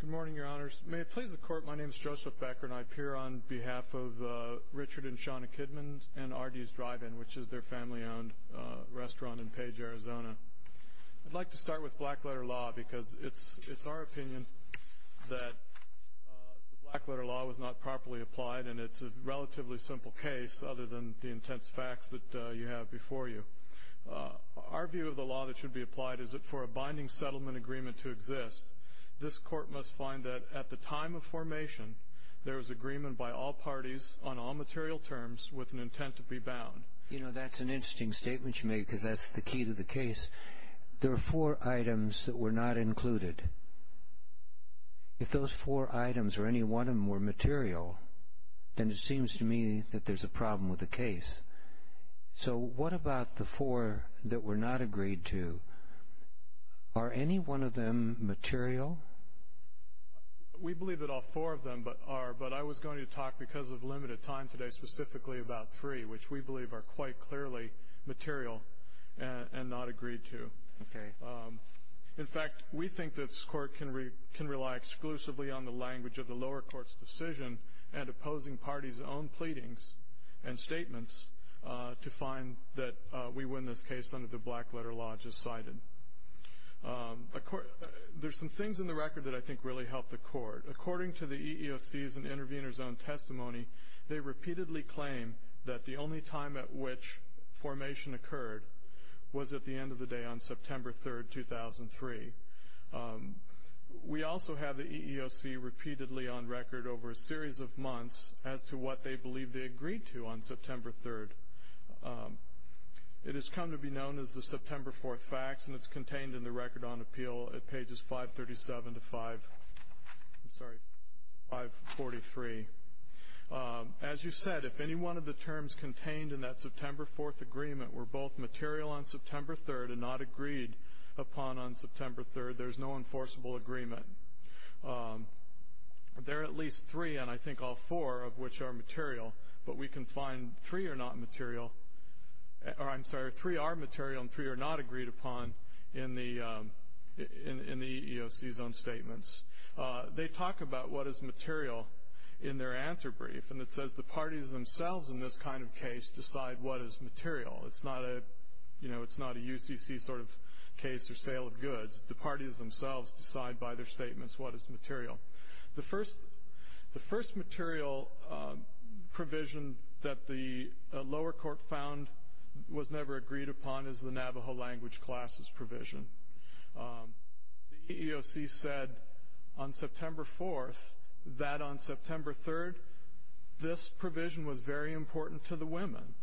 Good morning, Your Honors. May it please the Court, my name is Joseph Becker, and I appear on behalf of Richard and Shauna Kidman and Ardy's Drive-In, which is their family-owned restaurant in Page, Arizona. I'd like to start with black-letter law, because it's our opinion that black-letter law was not properly applied, and it's a relatively simple case, other than the intense facts that you have before you. Our view of the law that should be applied is that for a binding settlement agreement to exist, this Court must find that, at the time of formation, there is agreement by all parties, on all material terms, with an intent to be bound. You know, that's an interesting statement you made, because that's the key to the case. There are four items that were not included. If those four items, or any one of them, were material, then it seems to me that there's a problem with the case. So what about the four that were not agreed to? Are any one of them material? We believe that all four of them are, but I was going to talk, because of limited time today, specifically about three, which we believe are quite clearly material and not agreed to. Okay. In fact, we think this Court can rely exclusively on the language of the lower court's decision, and opposing parties' own pleadings and statements, to find that we win this case under the black-letter law as cited. There's some things in the record that I think really help the Court. As you said, if any one of the terms contained in that September 4th agreement were both material on September 3rd and not agreed upon on September 3rd, there's no enforceable agreement. There are at least three, and I think all four of which are material, but we can find three are not material, or I'm sorry, three are material and three are not agreed upon in the EEOC's own statements. They talk about what is material in their answer brief, and it says the parties themselves in this kind of case decide what is material. It's not a UCC sort of case or sale of goods. The parties themselves decide by their statements what is material. The first material provision that the lower court found was never agreed upon is the Navajo language classes provision. The EEOC said on September 4th that on September 3rd this provision was very important to the women.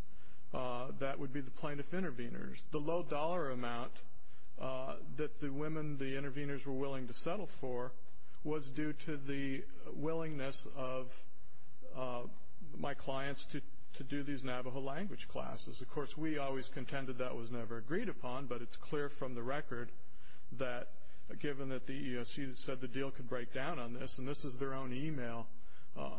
That would be the plaintiff intervenors. The low dollar amount that the women, the intervenors, were willing to settle for was due to the willingness of my clients to do these Navajo language classes. Of course, we always contended that was never agreed upon, but it's clear from the record that given that the EEOC said the deal could break down on this, and this is their own email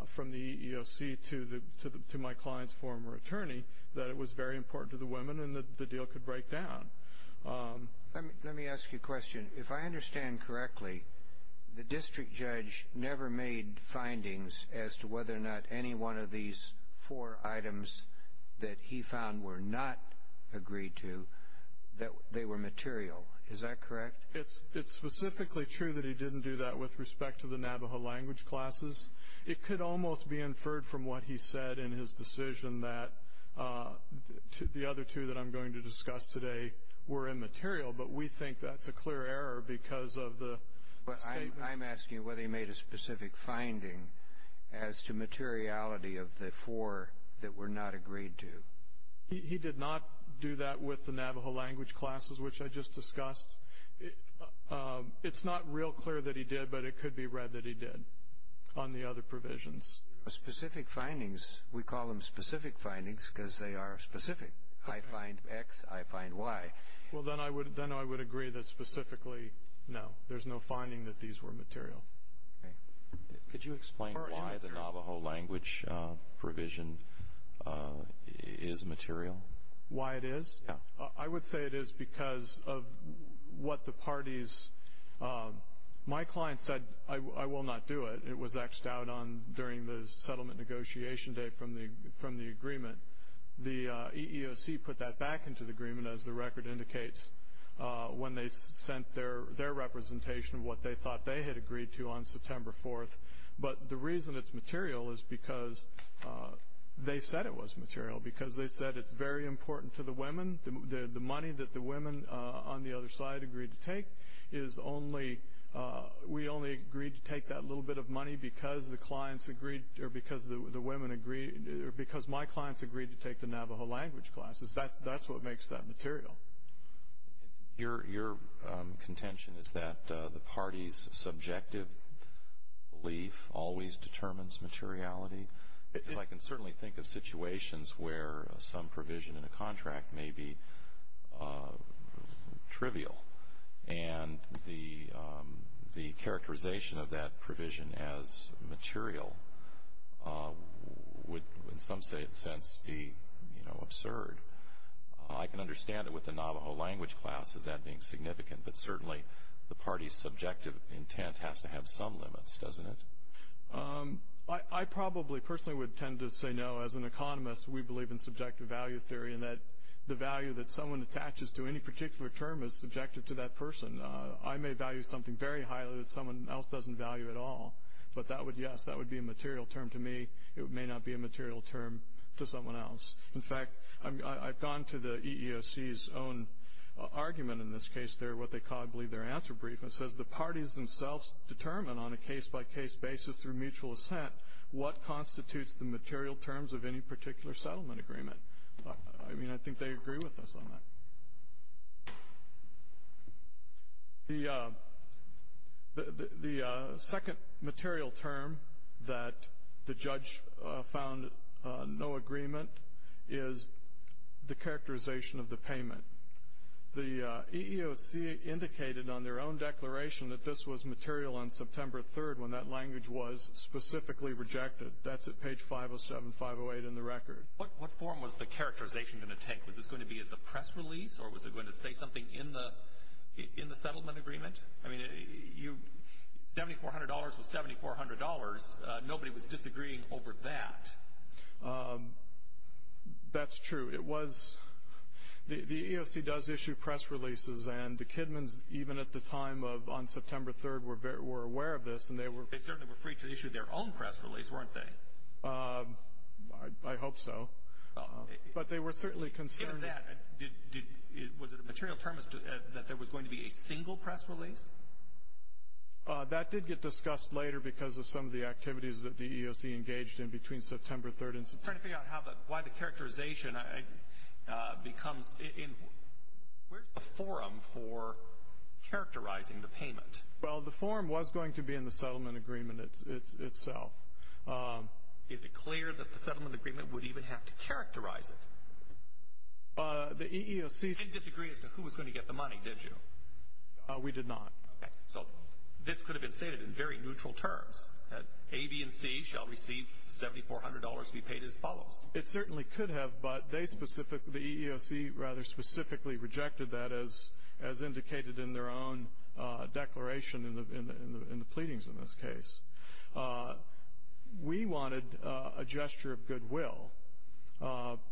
from the EEOC to my client's former attorney, that it was very important to the women and that the deal could break down. Let me ask you a question. If I understand correctly, the district judge never made findings as to whether or not any one of these four items that he found were not agreed to, that they were material. Is that correct? It's specifically true that he didn't do that with respect to the Navajo language classes. It could almost be inferred from what he said in his decision that the other two that I'm going to discuss today were immaterial, but we think that's a clear error because of the statements. I'm asking whether he made a specific finding as to materiality of the four that were not agreed to. He did not do that with the Navajo language classes, which I just discussed. It's not real clear that he did, but it could be read that he did on the other provisions. Specific findings, we call them specific findings because they are specific. I find X, I find Y. Well, then I would agree that specifically, no, there's no finding that these were material. Could you explain why the Navajo language provision is material? Why it is? Yeah. I would say it is because of what the parties, my client said, I will not do it. It was X'd out during the settlement negotiation day from the agreement. The EEOC put that back into the agreement, as the record indicates, when they sent their representation of what they thought they had agreed to on September 4th. But the reason it's material is because they said it was material because they said it's very important to the women. The money that the women on the other side agreed to take is only, we only agreed to take that little bit of money because the clients agreed, or because the women agreed, or because my clients agreed to take the Navajo language classes. That's what makes that material. Your contention is that the party's subjective belief always determines materiality? Because I can certainly think of situations where some provision in a contract may be trivial, and the characterization of that provision as material would, in some sense, be, you know, absurd. I can understand it with the Navajo language class as that being significant, but certainly the party's subjective intent has to have some limits, doesn't it? I probably personally would tend to say no. As an economist, we believe in subjective value theory and that the value that someone attaches to any particular term is subjective to that person. I may value something very highly that someone else doesn't value at all, but that would, yes, that would be a material term to me. It may not be a material term to someone else. In fact, I've gone to the EEOC's own argument in this case there, what they call, I believe, their answer brief, and it says the parties themselves determine on a case-by-case basis through mutual assent what constitutes the material terms of any particular settlement agreement. I mean, I think they agree with us on that. The second material term that the judge found no agreement is the characterization of the payment. The EEOC indicated on their own declaration that this was material on September 3rd when that language was specifically rejected. That's at page 507, 508 in the record. What form was the characterization going to take? Was this going to be as a press release, or was it going to say something in the settlement agreement? I mean, $7,400 was $7,400. Nobody was disagreeing over that. That's true. The EEOC does issue press releases, and the Kidmans, even at the time of on September 3rd, were aware of this. They certainly were free to issue their own press release, weren't they? I hope so. But they were certainly concerned. Given that, was it a material term that there was going to be a single press release? That did get discussed later because of some of the activities that the EEOC engaged in between September 3rd and September 3rd. I'm trying to figure out why the characterization becomes in. Where's the forum for characterizing the payment? Well, the forum was going to be in the settlement agreement itself. Is it clear that the settlement agreement would even have to characterize it? The EEOC ---- You didn't disagree as to who was going to get the money, did you? We did not. Okay. So this could have been stated in very neutral terms, that A, B, and C shall receive $7,400 to be paid as follows. It certainly could have, but they specifically ---- the EEOC rather specifically rejected that, as indicated in their own declaration in the pleadings in this case. We wanted a gesture of goodwill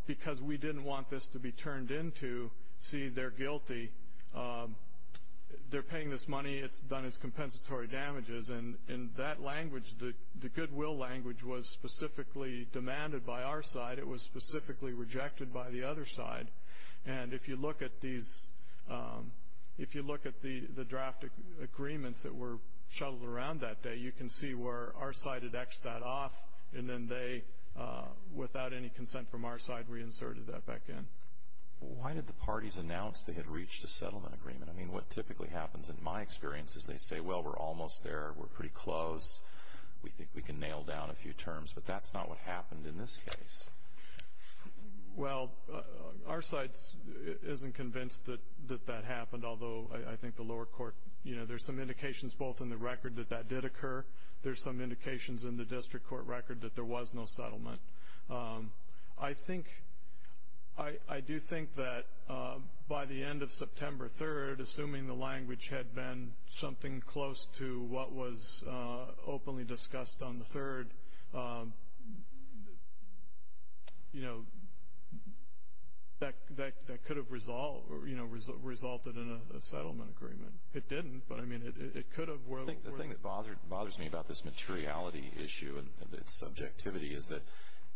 because we didn't want this to be turned into, see, they're guilty, they're paying this money, it's done its compensatory damages. And in that language, the goodwill language was specifically demanded by our side. It was specifically rejected by the other side. And if you look at these ---- if you look at the draft agreements that were shuttled around that day, you can see where our side had X'd that off, and then they, without any consent from our side, reinserted that back in. Why did the parties announce they had reached a settlement agreement? I mean, what typically happens in my experience is they say, well, we're almost there, we're pretty close, we think we can nail down a few terms, but that's not what happened in this case. Well, our side isn't convinced that that happened, although I think the lower court, you know, there's some indications both in the record that that did occur, there's some indications in the district court record that there was no settlement. I think ---- I do think that by the end of September 3rd, assuming the language had been something close to what was openly discussed on the 3rd, you know, that could have resulted in a settlement agreement. It didn't, but, I mean, it could have. I think the thing that bothers me about this materiality issue and its subjectivity is that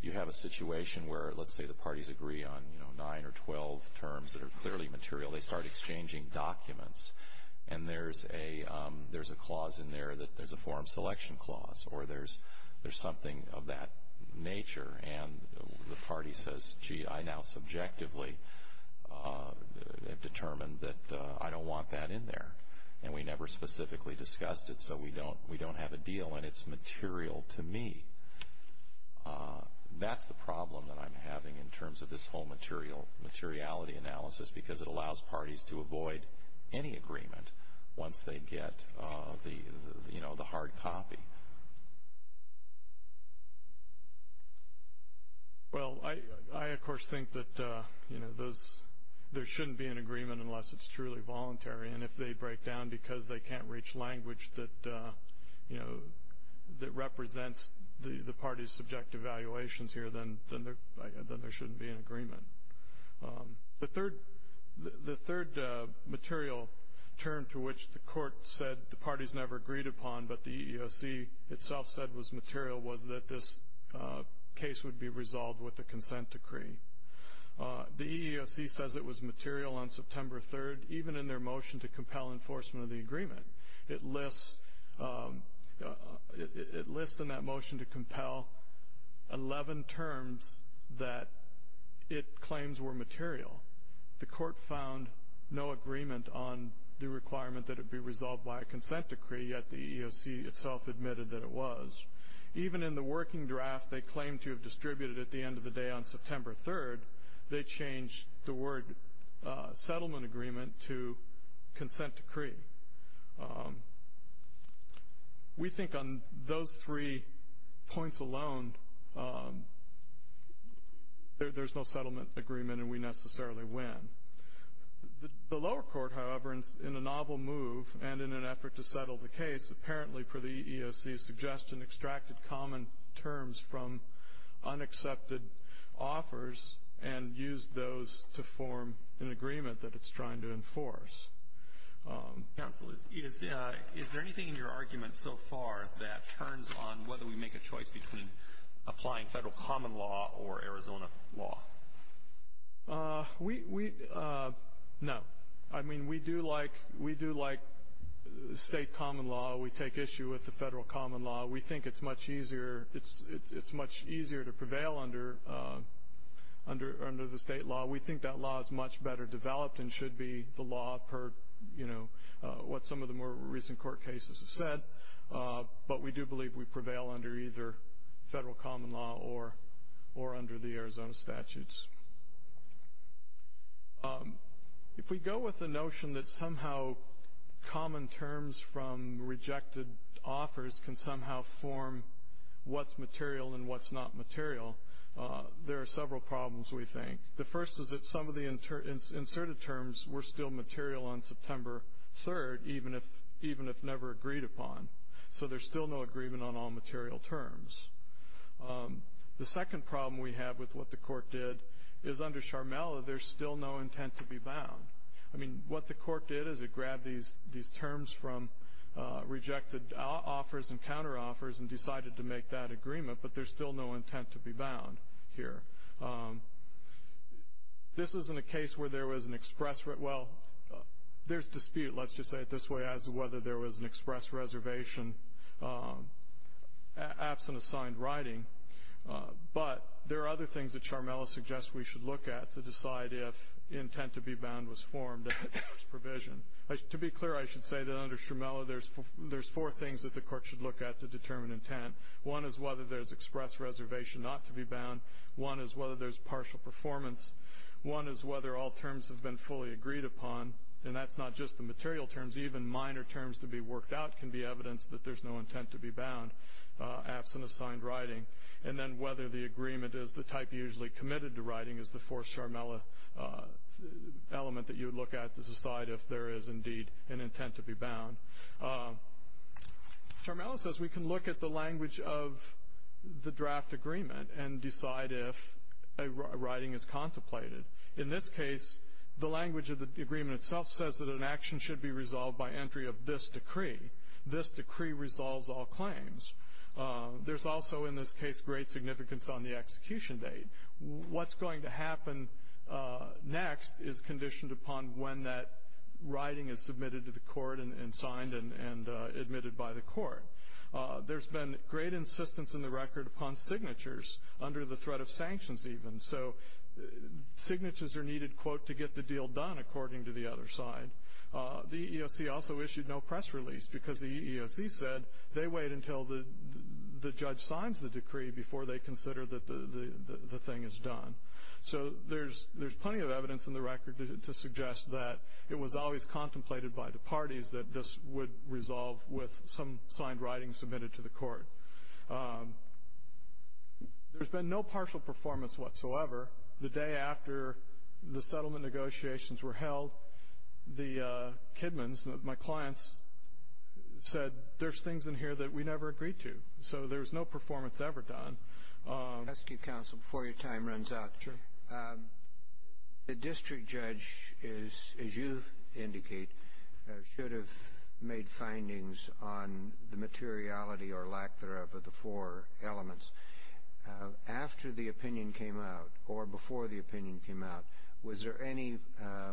you have a situation where, let's say the parties agree on, you know, 9 or 12 terms that are clearly material, they start exchanging documents, and there's a clause in there that there's a forum selection clause, or there's something of that nature, and the party says, gee, I now subjectively have determined that I don't want that in there, and we never specifically discussed it, so we don't have a deal, and it's material to me. That's the problem that I'm having in terms of this whole materiality analysis because it allows parties to avoid any agreement once they get, you know, the hard copy. Well, I, of course, think that, you know, there shouldn't be an agreement unless it's truly voluntary, and if they break down because they can't reach language that, you know, that represents the party's subjective valuations here, then there shouldn't be an agreement. The third material term to which the court said the parties never agreed upon, but the EEOC itself said was material, was that this case would be resolved with a consent decree. The EEOC says it was material on September 3rd, even in their motion to compel enforcement of the agreement. It lists in that motion to compel 11 terms that it claims were material. The court found no agreement on the requirement that it be resolved by a consent decree, yet the EEOC itself admitted that it was. Even in the working draft they claimed to have distributed at the end of the day on September 3rd, they changed the word settlement agreement to consent decree. We think on those three points alone there's no settlement agreement and we necessarily win. The lower court, however, in a novel move and in an effort to settle the case, apparently per the EEOC's suggestion, extracted common terms from unaccepted offers and used those to form an agreement that it's trying to enforce. Counsel, is there anything in your argument so far that turns on whether we make a choice between applying federal common law or Arizona law? No. I mean, we do like state common law. We take issue with the federal common law. We think it's much easier to prevail under the state law. We think that law is much better developed and should be the law per what some of the more recent court cases have said, but we do believe we prevail under either federal common law or under the Arizona statutes. If we go with the notion that somehow common terms from rejected offers can somehow form what's material and what's not material, there are several problems, we think. The first is that some of the inserted terms were still material on September 3rd, even if never agreed upon, so there's still no agreement on all material terms. The second problem we have with what the court did is under Sharmella there's still no intent to be bound. I mean, what the court did is it grabbed these terms from rejected offers and counteroffers and decided to make that agreement, but there's still no intent to be bound here. This isn't a case where there was an express – well, there's dispute, let's just say it this way, as to whether there was an express reservation absent assigned writing, but there are other things that Sharmella suggests we should look at to decide if intent to be bound was formed at the court's provision. To be clear, I should say that under Sharmella there's four things that the court should look at to determine intent. One is whether there's express reservation not to be bound. One is whether there's partial performance. One is whether all terms have been fully agreed upon, and that's not just the material terms. Even minor terms to be worked out can be evidence that there's no intent to be bound absent assigned writing. And then whether the agreement is the type usually committed to writing is the fourth Sharmella element that you would look at to decide if there is indeed an intent to be bound. Sharmella says we can look at the language of the draft agreement and decide if a writing is contemplated. In this case, the language of the agreement itself says that an action should be resolved by entry of this decree. This decree resolves all claims. There's also in this case great significance on the execution date. What's going to happen next is conditioned upon when that writing is submitted to the court and signed and admitted by the court. There's been great insistence in the record upon signatures under the threat of sanctions even. So signatures are needed, quote, to get the deal done, according to the other side. The EEOC also issued no press release because the EEOC said they wait until the judge signs the decree before they consider that the thing is done. So there's plenty of evidence in the record to suggest that it was always contemplated by the parties that this would resolve with some signed writing submitted to the court. There's been no partial performance whatsoever. The day after the settlement negotiations were held, the Kidmans, my clients, said, there's things in here that we never agreed to. So there was no performance ever done. Let me ask you, counsel, before your time runs out. Sure. The district judge is, as you indicate, should have made findings on the materiality or lack thereof of the four elements. After the opinion came out or before the opinion came out, was there any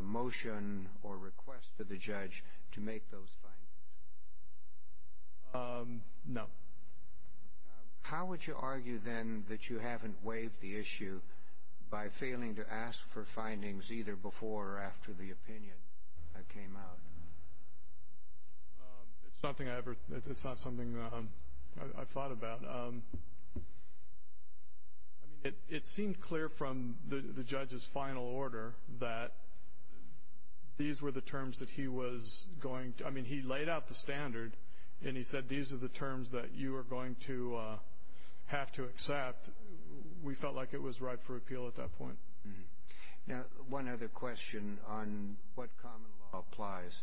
motion or request to the judge to make those findings? No. How would you argue then that you haven't waived the issue by failing to ask for findings either before or after the opinion came out? It's not something I thought about. I mean, it seemed clear from the judge's final order that these were the terms that he was going to ‑‑ I mean, he laid out the standard, and he said these are the terms that you are going to have to accept. We felt like it was ripe for appeal at that point. Now, one other question on what common law applies.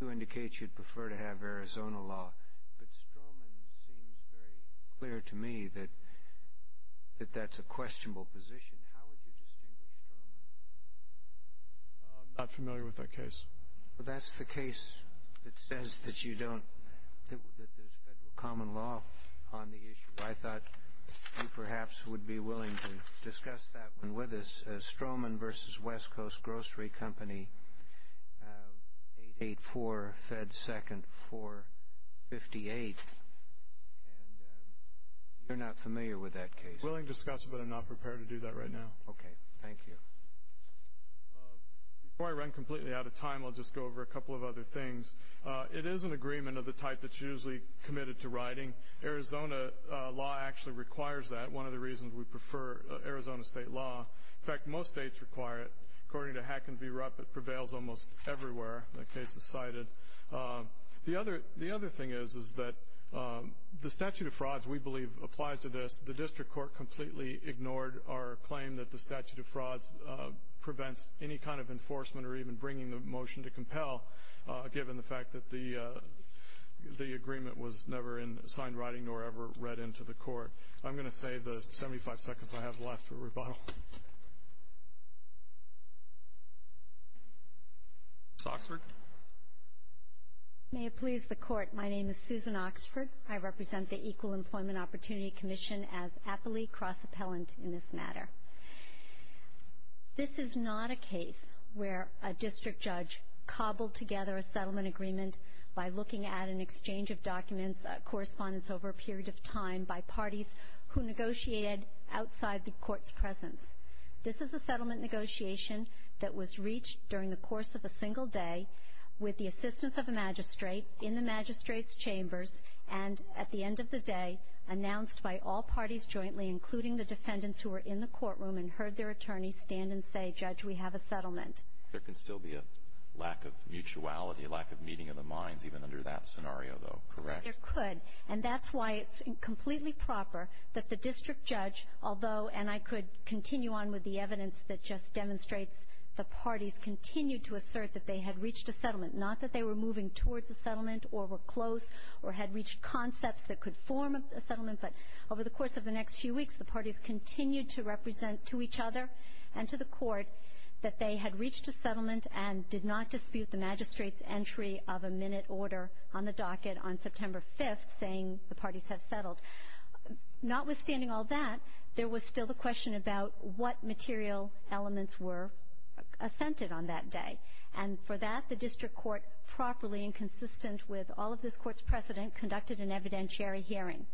You indicate you'd prefer to have Arizona law, but Stroman seems very clear to me that that's a questionable position. How would you distinguish Stroman? I'm not familiar with that case. Well, that's the case that says that you don't ‑‑ that there's federal common law on the issue. I thought you perhaps would be willing to discuss that one with us. Stroman v. West Coast Grocery Company, 884 Fed 2nd 458. And you're not familiar with that case. I'm willing to discuss it, but I'm not prepared to do that right now. Okay. Thank you. Before I run completely out of time, I'll just go over a couple of other things. One, Arizona law actually requires that, one of the reasons we prefer Arizona state law. In fact, most states require it. According to Hacken v. Rupp, it prevails almost everywhere. That case is cited. The other thing is, is that the statute of frauds, we believe, applies to this. The district court completely ignored our claim that the statute of frauds prevents any kind of enforcement or even bringing the motion to compel, given the fact that the agreement was never in signed writing nor ever read into the court. I'm going to save the 75 seconds I have left for rebuttal. Ms. Oxford. May it please the Court, my name is Susan Oxford. I represent the Equal Employment Opportunity Commission as aptly cross-appellant in this matter. This is not a case where a district judge cobbled together a settlement agreement by looking at an exchange of documents, correspondence over a period of time, by parties who negotiated outside the court's presence. This is a settlement negotiation that was reached during the course of a single day with the assistance of a magistrate, in the magistrate's chambers, and, at the end of the day, announced by all parties jointly, including the defendants who were in the courtroom and heard their attorneys stand and say, Judge, we have a settlement. There can still be a lack of mutuality, a lack of meeting of the minds, even under that scenario, though, correct? There could, and that's why it's completely proper that the district judge, although, and I could continue on with the evidence that just demonstrates the parties continued to assert that they had reached a settlement, not that they were moving towards a settlement or were close or had reached concepts that could form a settlement, but over the course of the next few weeks, the parties continued to represent to each other and to the court that they had reached a settlement and did not dispute the magistrate's entry of a minute order on the docket on September 5th, saying the parties have settled. Notwithstanding all that, there was still the question about what material elements were assented on that day, and for that, the district court, properly and consistent with all of this court's precedent, conducted an evidentiary hearing.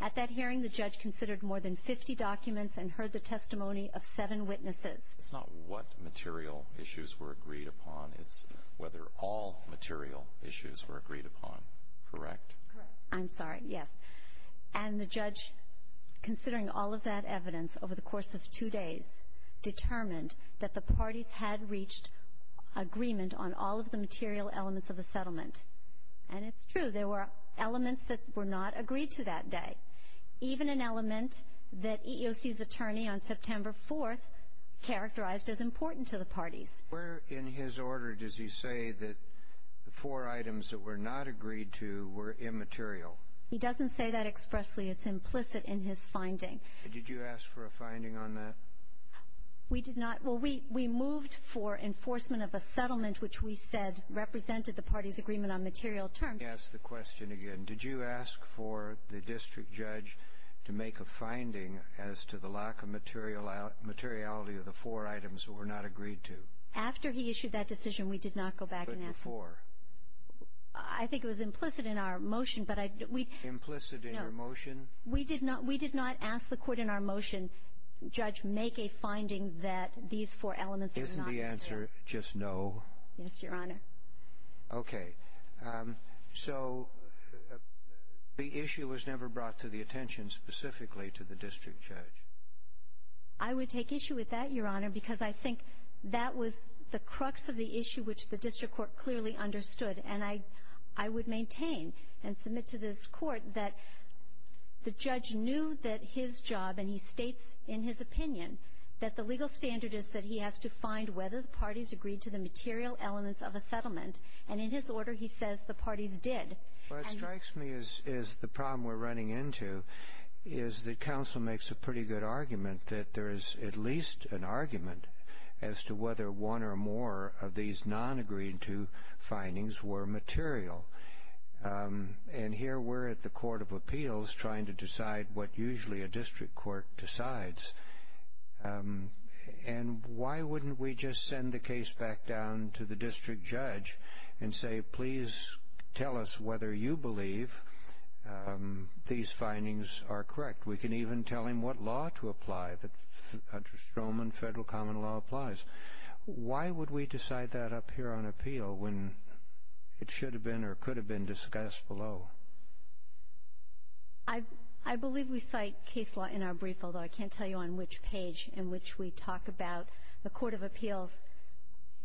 At that hearing, the judge considered more than 50 documents and heard the testimony of seven witnesses. It's not what material issues were agreed upon. It's whether all material issues were agreed upon, correct? Correct. I'm sorry. Yes. And the judge, considering all of that evidence over the course of two days, determined that the parties had reached agreement on all of the material elements of the settlement. And it's true. There were elements that were not agreed to that day, even an element that EEOC's attorney on September 4th characterized as important to the parties. Where in his order does he say that the four items that were not agreed to were immaterial? He doesn't say that expressly. It's implicit in his finding. Did you ask for a finding on that? We did not. Well, we moved for enforcement of a settlement which we said represented the parties' agreement on material terms. Let me ask the question again. Did you ask for the district judge to make a finding as to the lack of materiality of the four items that were not agreed to? After he issued that decision, we did not go back and ask him. But before? Implicit in your motion? We did not ask the court in our motion, Judge, make a finding that these four elements were not agreed to. Isn't the answer just no? Yes, Your Honor. Okay. So the issue was never brought to the attention specifically to the district judge? I would take issue with that, Your Honor, because I think that was the crux of the issue which the district court clearly understood. And I would maintain and submit to this court that the judge knew that his job, and he states in his opinion, that the legal standard is that he has to find whether the parties agreed to the material elements of a settlement. And in his order, he says the parties did. What strikes me as the problem we're running into is that counsel makes a pretty good argument that there is at least an argument as to whether one or more of these non-agreed-to findings were material. And here we're at the court of appeals trying to decide what usually a district court decides. And why wouldn't we just send the case back down to the district judge and say, please tell us whether you believe these findings are correct? We can even tell him what law to apply, that Stroman federal common law applies. Why would we decide that up here on appeal when it should have been or could have been discussed below? I believe we cite case law in our brief, although I can't tell you on which page, in which we talk about the court of appeals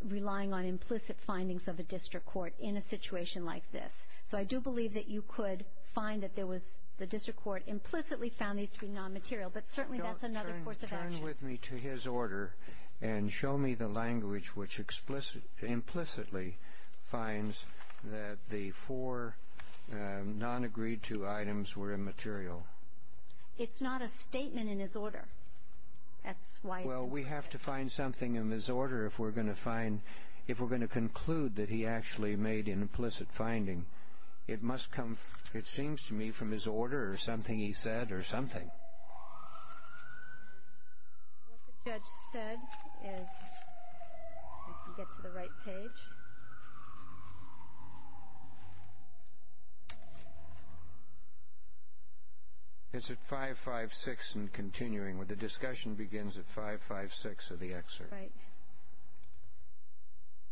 relying on implicit findings of a district court in a situation like this. So I do believe that you could find that there was the district court implicitly found these to be non-material. But certainly that's another course of action. Turn with me to his order and show me the language which implicitly finds that the four non-agreed-to items were immaterial. It's not a statement in his order. That's why it's implicit. We're going to find something in his order if we're going to find, if we're going to conclude that he actually made an implicit finding. It must come, it seems to me, from his order or something he said or something. What the judge said is, if we can get to the right page. It's at 5.56 and continuing with the discussion begins at 5.56 of the excerpt. Right.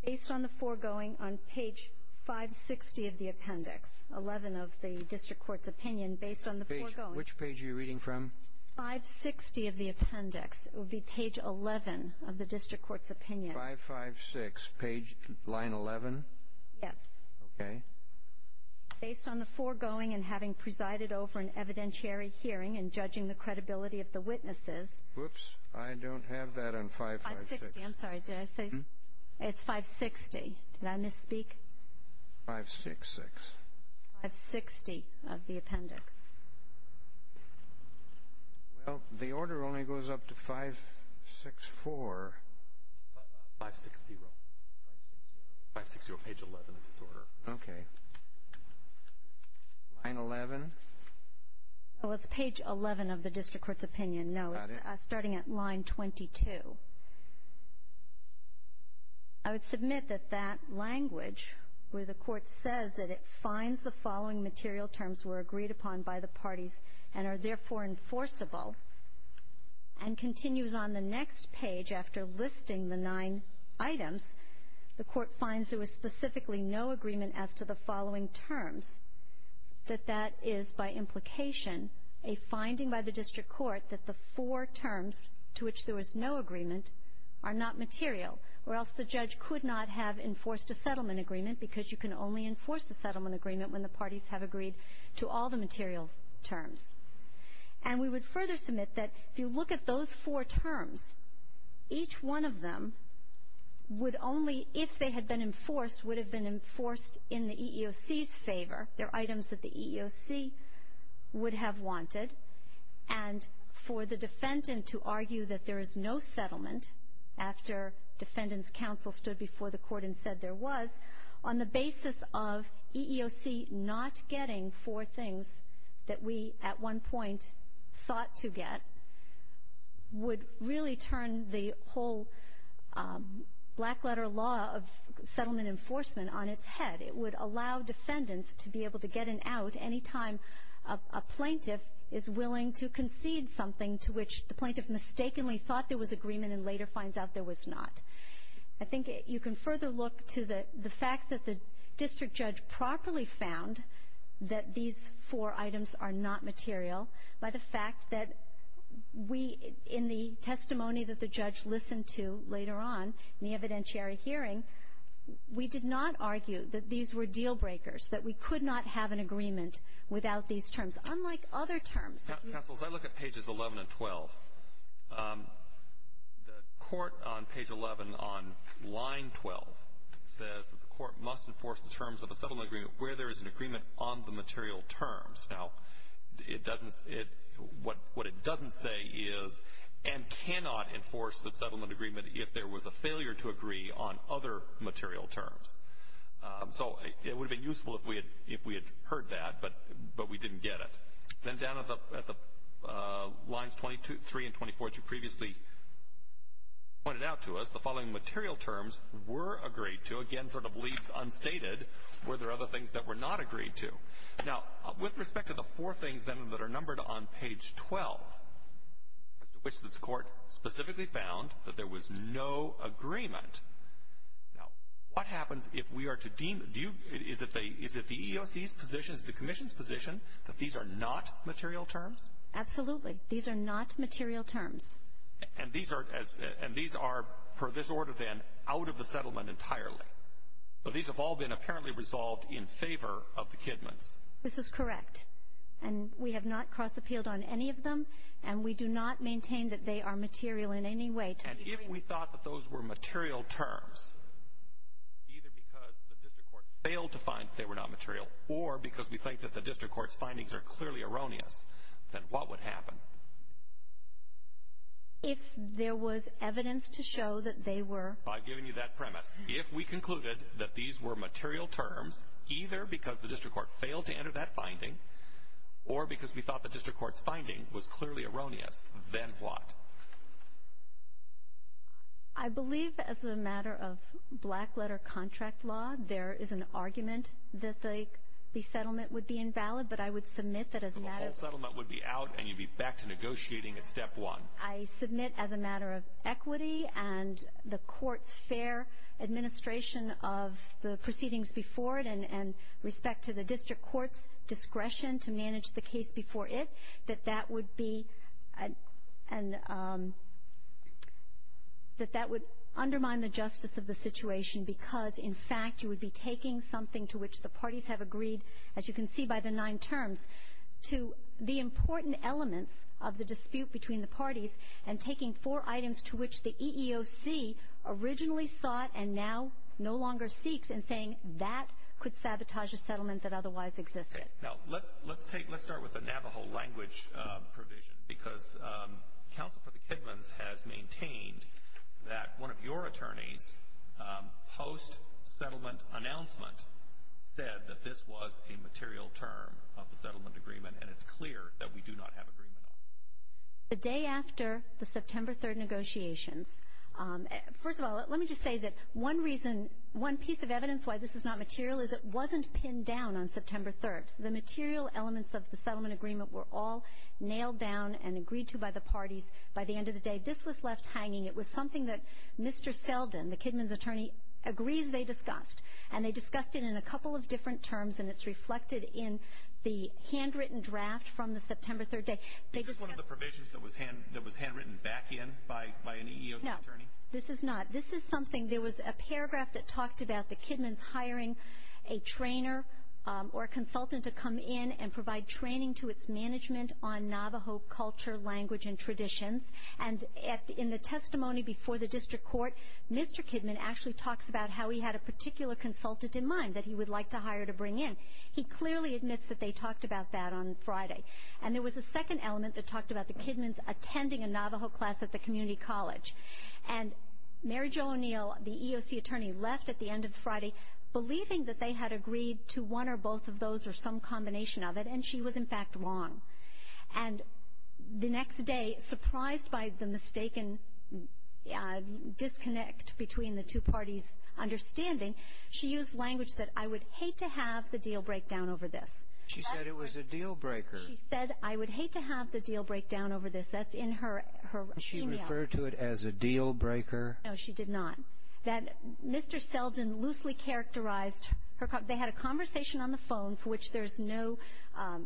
Based on the foregoing on page 560 of the appendix, 11 of the district court's opinion, based on the foregoing. Which page are you reading from? 560 of the appendix. 5.56, line 11? Yes. Okay. Based on the foregoing and having presided over an evidentiary hearing and judging the credibility of the witnesses. Whoops. I don't have that on 5.56. 560. I'm sorry. Did I say? It's 560. Did I misspeak? 5.66. 5.60 of the appendix. Well, the order only goes up to 5.64. 5.60. 5.60. 5.60, page 11 of his order. Okay. Line 11. Well, it's page 11 of the district court's opinion. Got it. No, it's starting at line 22. I would submit that that language, where the court says that it finds the following material terms were agreed upon by the parties and are therefore enforceable, and continues on the next page after listing the nine items, the court finds there was specifically no agreement as to the following terms, that that is by implication a finding by the district court that the four terms to which there was no agreement are not material, or else the judge could not have enforced a settlement agreement, because you can only enforce a settlement agreement when the parties have agreed to all the material terms. And we would further submit that if you look at those four terms, each one of them would only, if they had been enforced, would have been enforced in the EEOC's favor. They're items that the EEOC would have wanted. And for the defendant to argue that there is no settlement, after defendant's counsel stood before the court and said there was, on the basis of EEOC not getting four things that we at one point sought to get, would really turn the whole black letter law of settlement enforcement on its head. It would allow defendants to be able to get an out any time a plaintiff is willing to concede something to which the plaintiff mistakenly thought there was agreement and later finds out there was not. I think you can further look to the fact that the district judge properly found that these four items are not material by the fact that we, in the testimony that the judge listened to later on in the evidentiary hearing, we did not argue that these were deal breakers, that we could not have an agreement without these terms, unlike other terms that you see. Counsel, if I look at pages 11 and 12, the court on page 11 on line 12 says that the court must enforce the terms of a settlement agreement where there is an agreement on the material terms. Now, what it doesn't say is and cannot enforce the settlement agreement if there was a failure to agree on other material terms. So it would have been useful if we had heard that, but we didn't get it. Then down at the lines 23 and 24, as you previously pointed out to us, the following material terms were agreed to. Again, sort of leaves unstated were there other things that were not agreed to. Now, with respect to the four things, then, that are numbered on page 12, as to which this court specifically found that there was no agreement, now, what happens if we are to deem? Is it the EEOC's position, is it the commission's position that these are not material terms? Absolutely. These are not material terms. And these are, per this order, then, out of the settlement entirely. So these have all been apparently resolved in favor of the Kidmans. This is correct. And we have not cross-appealed on any of them. And we do not maintain that they are material in any way. And if we thought that those were material terms, either because the district court failed to find that they were not material or because we think that the district court's findings are clearly erroneous, then what would happen? If there was evidence to show that they were. By giving you that premise. If we concluded that these were material terms, either because the district court failed to enter that finding or because we thought the district court's finding was clearly erroneous, then what? I believe as a matter of black letter contract law, there is an argument that the settlement would be invalid, but I would submit that as a matter of. So the whole settlement would be out and you'd be back to negotiating at step one. I submit as a matter of equity and the court's fair administration of the proceedings before it and respect to the district court's discretion to manage the case before it, that that would undermine the justice of the situation because, in fact, you would be taking something to which the parties have agreed, as you can see by the nine terms, to the important elements of the dispute between the parties and taking four items to which the EEOC originally sought and now no longer seeks and saying that could sabotage a settlement that otherwise existed. Now, let's start with the Navajo language provision because Counsel for the Kidmans has maintained that one of your attorneys, post-settlement announcement, said that this was a material term of the settlement agreement and it's clear that we do not have agreement on it. The day after the September 3rd negotiations, first of all, let me just say that one reason, one piece of evidence why this is not material is it wasn't pinned down on September 3rd. The material elements of the settlement agreement were all nailed down and agreed to by the parties. By the end of the day, this was left hanging. It was something that Mr. Selden, the Kidmans attorney, agrees they discussed, and they discussed it in a couple of different terms, and it's reflected in the handwritten draft from the September 3rd day. Is this one of the provisions that was handwritten back in by an EEOC attorney? No, this is not. This is something there was a paragraph that talked about the Kidmans hiring a trainer or a consultant to come in and provide training to its management on Navajo culture, language, and traditions, and in the testimony before the district court, Mr. Kidman actually talks about how he had a particular consultant in mind that he would like to hire to bring in. He clearly admits that they talked about that on Friday, and there was a second element that talked about the Kidmans attending a Navajo class at the community college, and Mary Jo O'Neill, the EEOC attorney, left at the end of Friday believing that they had agreed to one or both of those or some combination of it, and she was, in fact, wrong. And the next day, surprised by the mistaken disconnect between the two parties' understanding, she used language that I would hate to have the deal break down over this. She said it was a deal breaker. She said I would hate to have the deal break down over this. That's in her email. Did she refer to it as a deal breaker? No, she did not. That Mr. Seldin loosely characterized her. They had a conversation on the phone for which there's no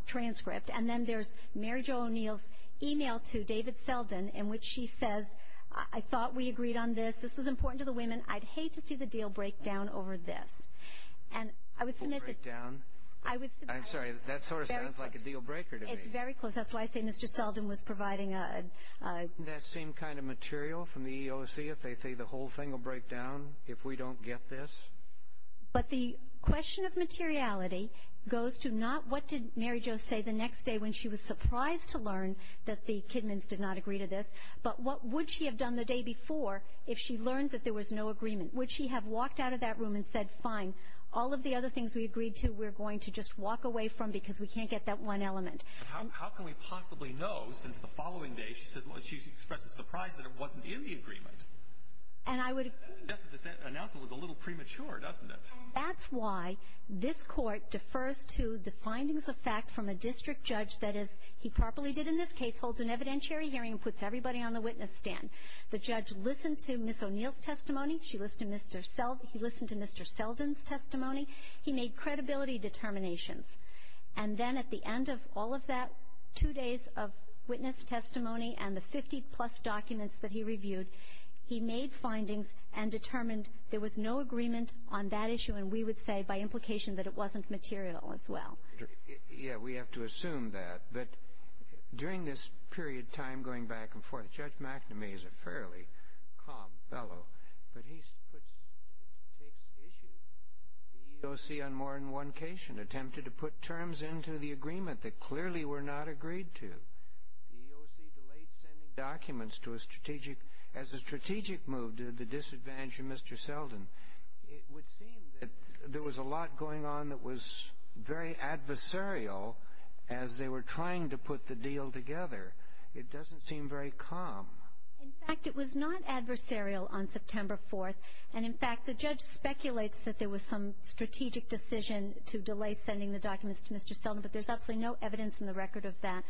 transcript, and then there's Mary Jo O'Neill's email to David Seldin in which she says, I thought we agreed on this. This was important to the women. I'd hate to see the deal break down over this. And I would submit that. The deal break down? I'm sorry. That sort of sounds like a deal breaker to me. It's very close. That's why I say Mr. Seldin was providing a... But the question of materiality goes to not what did Mary Jo say the next day when she was surprised to learn that the Kidmans did not agree to this, but what would she have done the day before if she learned that there was no agreement. Would she have walked out of that room and said, fine, all of the other things we agreed to we're going to just walk away from because we can't get that one element. How can we possibly know since the following day, she says, she expressed a surprise that it wasn't in the agreement. And I would... The announcement was a little premature, wasn't it? That's why this court defers to the findings of fact from a district judge that, as he properly did in this case, holds an evidentiary hearing and puts everybody on the witness stand. The judge listened to Ms. O'Neill's testimony. She listened to Mr. Seldin. He listened to Mr. Seldin's testimony. He made credibility determinations. And then at the end of all of that, two days of witness testimony and the 50-plus documents that he reviewed, he made findings and determined there was no agreement on that issue, and we would say by implication that it wasn't material as well. Yeah, we have to assume that. But during this period of time going back and forth, Judge McNamee is a fairly calm fellow, but he takes issue with the EEOC on more than one case attempted to put terms into the agreement that clearly were not agreed to. The EEOC delayed sending documents to a strategic... As a strategic move to the disadvantage of Mr. Seldin, it would seem that there was a lot going on that was very adversarial as they were trying to put the deal together. It doesn't seem very calm. In fact, it was not adversarial on September 4th, and in fact the judge speculates that there was some strategic decision to delay sending the documents to Mr. Seldin, but there's absolutely no evidence in the record of that.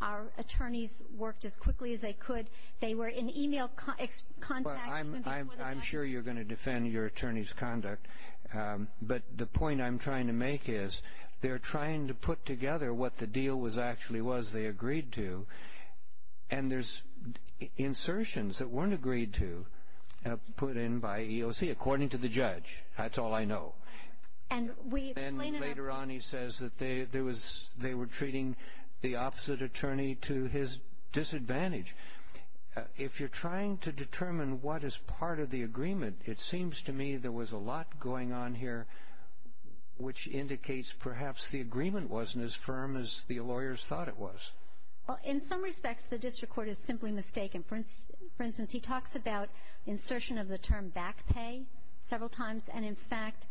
Our attorneys worked as quickly as they could. They were in e-mail contact... Well, I'm sure you're going to defend your attorney's conduct, but the point I'm trying to make is they're trying to put together what the deal actually was they agreed to, and there's insertions that weren't agreed to put in by EEOC, according to the judge. That's all I know. Then later on he says that they were treating the opposite attorney to his disadvantage. If you're trying to determine what is part of the agreement, it seems to me there was a lot going on here which indicates perhaps the agreement wasn't as firm as the lawyers thought it was. Well, in some respects the district court is simply mistaken. For instance, he talks about insertion of the term back pay several times, and in fact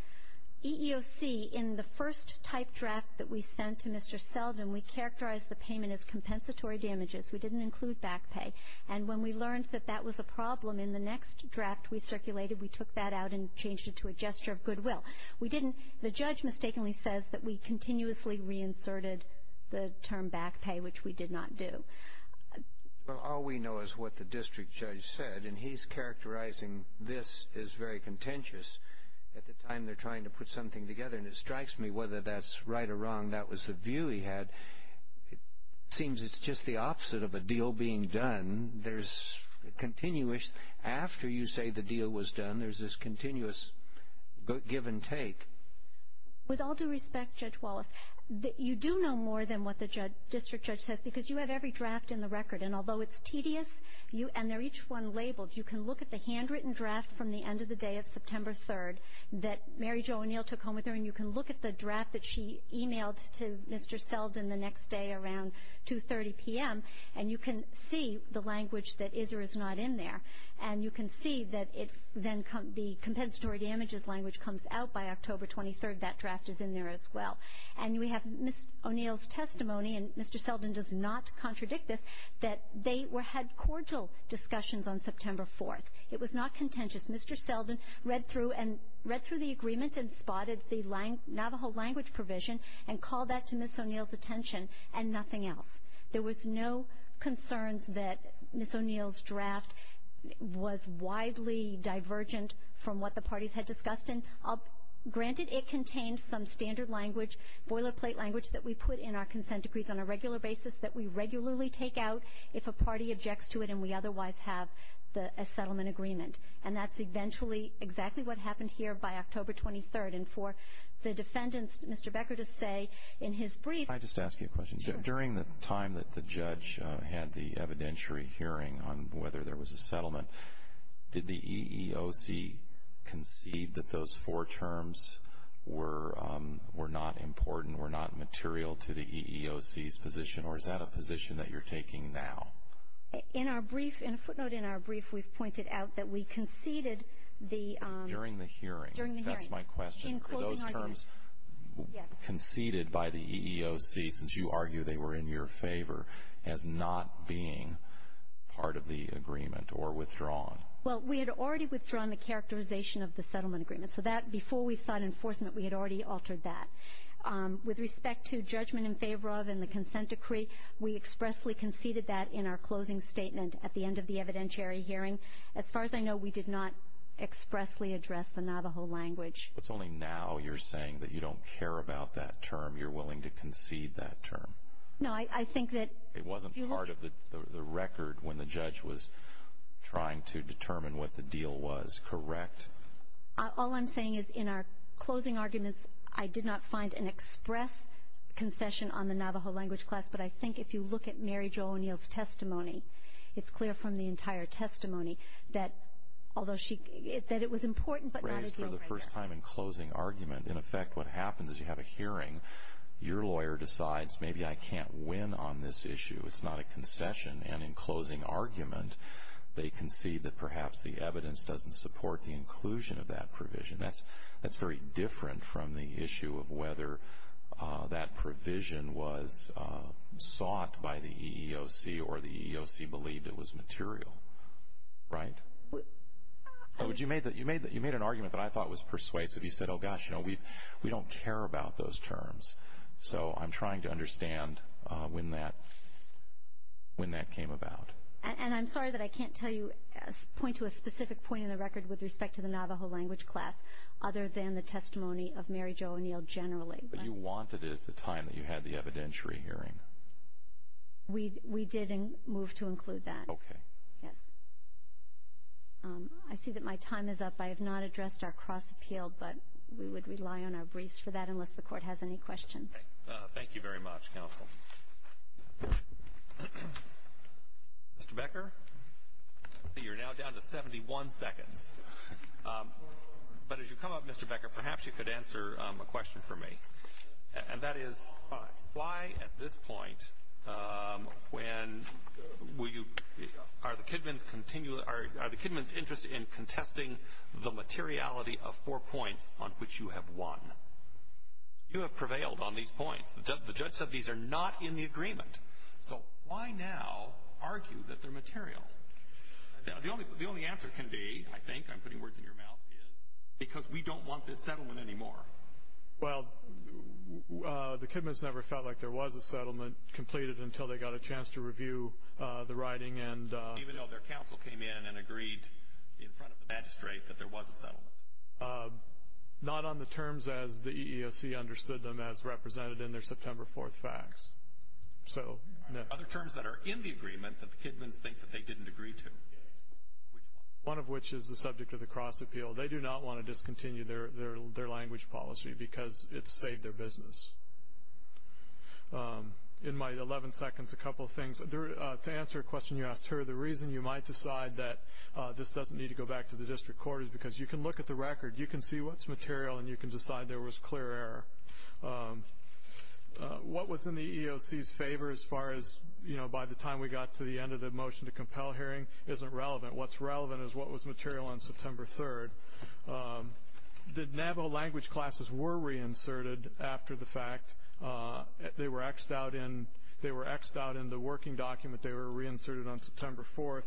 EEOC in the first type draft that we sent to Mr. Seldin, we characterized the payment as compensatory damages. We didn't include back pay. And when we learned that that was a problem in the next draft we circulated, we took that out and changed it to a gesture of goodwill. The judge mistakenly says that we continuously reinserted the term back pay, which we did not do. Well, all we know is what the district judge said, and he's characterizing this as very contentious. At the time they're trying to put something together, and it strikes me whether that's right or wrong, that was the view he had. It seems it's just the opposite of a deal being done. After you say the deal was done, there's this continuous give and take. With all due respect, Judge Wallace, you do know more than what the district judge says because you have every draft in the record, and although it's tedious, and they're each one labeled, you can look at the handwritten draft from the end of the day of September 3rd that Mary Jo O'Neill took home with her, and you can look at the draft that she emailed to Mr. Seldin the next day around 2.30 p.m., and you can see the language that is or is not in there, and you can see that the compensatory damages language comes out by October 23rd. That draft is in there as well. And we have Ms. O'Neill's testimony, and Mr. Seldin does not contradict this, that they had cordial discussions on September 4th. It was not contentious. Mr. Seldin read through the agreement and spotted the Navajo language provision and called that to Ms. O'Neill's attention and nothing else. There was no concerns that Ms. O'Neill's draft was widely divergent from what the parties had discussed. Granted, it contains some standard language, boilerplate language, that we put in our consent decrees on a regular basis that we regularly take out if a party objects to it and we otherwise have a settlement agreement. And that's eventually exactly what happened here by October 23rd. And for the defendants, Mr. Becker to say in his brief – I'd just ask you a question. Sure. During the time that the judge had the evidentiary hearing on whether there was a settlement, did the EEOC concede that those four terms were not important, were not material to the EEOC's position, or is that a position that you're taking now? In our brief, in a footnote in our brief, we've pointed out that we conceded the – During the hearing. During the hearing. That's my question. In closing arguments. Were those terms conceded by the EEOC, since you argue they were in your favor, as not being part of the agreement or withdrawn? Well, we had already withdrawn the characterization of the settlement agreement. So that, before we sought enforcement, we had already altered that. With respect to judgment in favor of and the consent decree, we expressly conceded that in our closing statement at the end of the evidentiary hearing. As far as I know, we did not expressly address the Navajo language. It's only now you're saying that you don't care about that term. You're willing to concede that term. No, I think that – It wasn't part of the record when the judge was trying to determine what the deal was, correct? All I'm saying is in our closing arguments, I did not find an express concession on the Navajo language class, but I think if you look at Mary Jo O'Neill's testimony, it's clear from the entire testimony that although she – that it was important, but not a deal breaker. Raised for the first time in closing argument. In effect, what happens is you have a hearing. Your lawyer decides maybe I can't win on this issue. It's not a concession. And in closing argument, they concede that perhaps the evidence doesn't support the inclusion of that provision. That's very different from the issue of whether that provision was sought by the EEOC or the EEOC believed it was material, right? You made an argument that I thought was persuasive. You said, oh, gosh, you know, we don't care about those terms. So I'm trying to understand when that came about. And I'm sorry that I can't tell you – point to a specific point in the record with respect to the Navajo language class other than the testimony of Mary Jo O'Neill generally. But you wanted it at the time that you had the evidentiary hearing. We did move to include that. Okay. Yes. I see that my time is up. I have not addressed our cross-appeal, but we would rely on our briefs for that unless the Court has any questions. Thank you very much, counsel. Mr. Becker, I see you're now down to 71 seconds. But as you come up, Mr. Becker, perhaps you could answer a question for me, And that is, why at this point when will you – are the Kidmans interested in contesting the materiality of four points on which you have won? You have prevailed on these points. The judge said these are not in the agreement. So why now argue that they're material? The only answer can be, I think, I'm putting words in your mouth, because we don't want this settlement anymore. Well, the Kidmans never felt like there was a settlement completed until they got a chance to review the writing. Even though their counsel came in and agreed in front of the magistrate that there was a settlement. Not on the terms as the EEOC understood them as represented in their September 4th facts. Other terms that are in the agreement that the Kidmans think that they didn't agree to. One of which is the subject of the cross-appeal. They do not want to discontinue their language policy because it's saved their business. In my 11 seconds, a couple of things. To answer a question you asked her, the reason you might decide that this doesn't need to go back to the district court is because you can look at the record, you can see what's material, and you can decide there was clear error. What was in the EEOC's favor as far as, you know, by the time we got to the end of the motion to compel hearing isn't relevant. What's relevant is what was material on September 3rd. The Navajo language classes were reinserted after the fact. They were X'd out in the working document. They were reinserted on September 4th.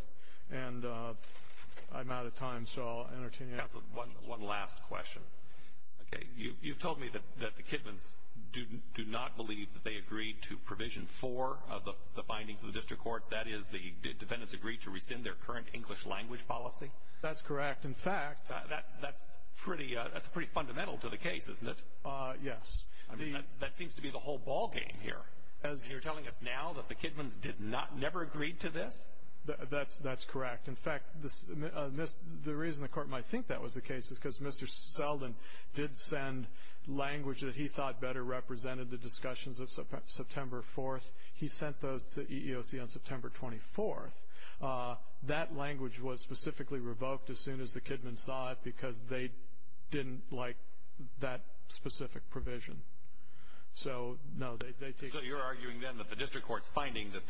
And I'm out of time, so I'll entertain you. One last question. Okay. You've told me that the Kidmans do not believe that they agreed to Provision 4 of the findings of the district court. That is, the defendants agreed to rescind their current English language policy? That's correct. In fact, that's pretty fundamental to the case, isn't it? Yes. I mean, that seems to be the whole ballgame here. You're telling us now that the Kidmans never agreed to this? That's correct. In fact, the reason the court might think that was the case is because Mr. Selden did send language that he thought better represented the discussions of September 4th. He sent those to EEOC on September 24th. That language was specifically revoked as soon as the Kidmans saw it because they didn't like that specific provision. So, no, they take it. So you're arguing, then, that the district court's finding that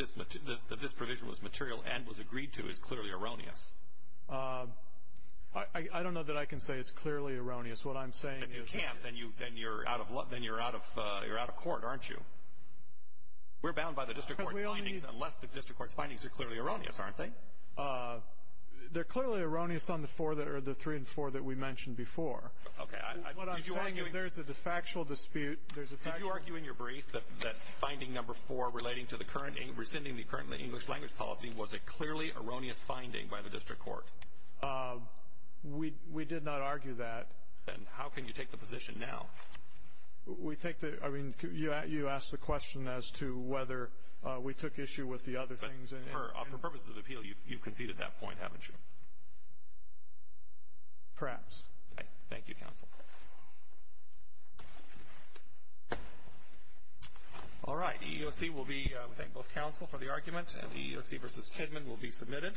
this provision was material and was agreed to is clearly erroneous? I don't know that I can say it's clearly erroneous. What I'm saying is that you can't. If you can't, then you're out of court, aren't you? We're bound by the district court's findings unless the district court's findings are clearly erroneous, aren't they? They're clearly erroneous on the three and four that we mentioned before. Okay. What I'm saying is there's a factual dispute. Did you argue in your brief that finding number four, rescinding the current English language policy, was a clearly erroneous finding by the district court? We did not argue that. Then how can you take the position now? I mean, you asked the question as to whether we took issue with the other things. For purposes of appeal, you've conceded that point, haven't you? Perhaps. Okay. Thank you, counsel. All right. We thank both counsel for the argument, and the EEOC versus Kidman will be submitted.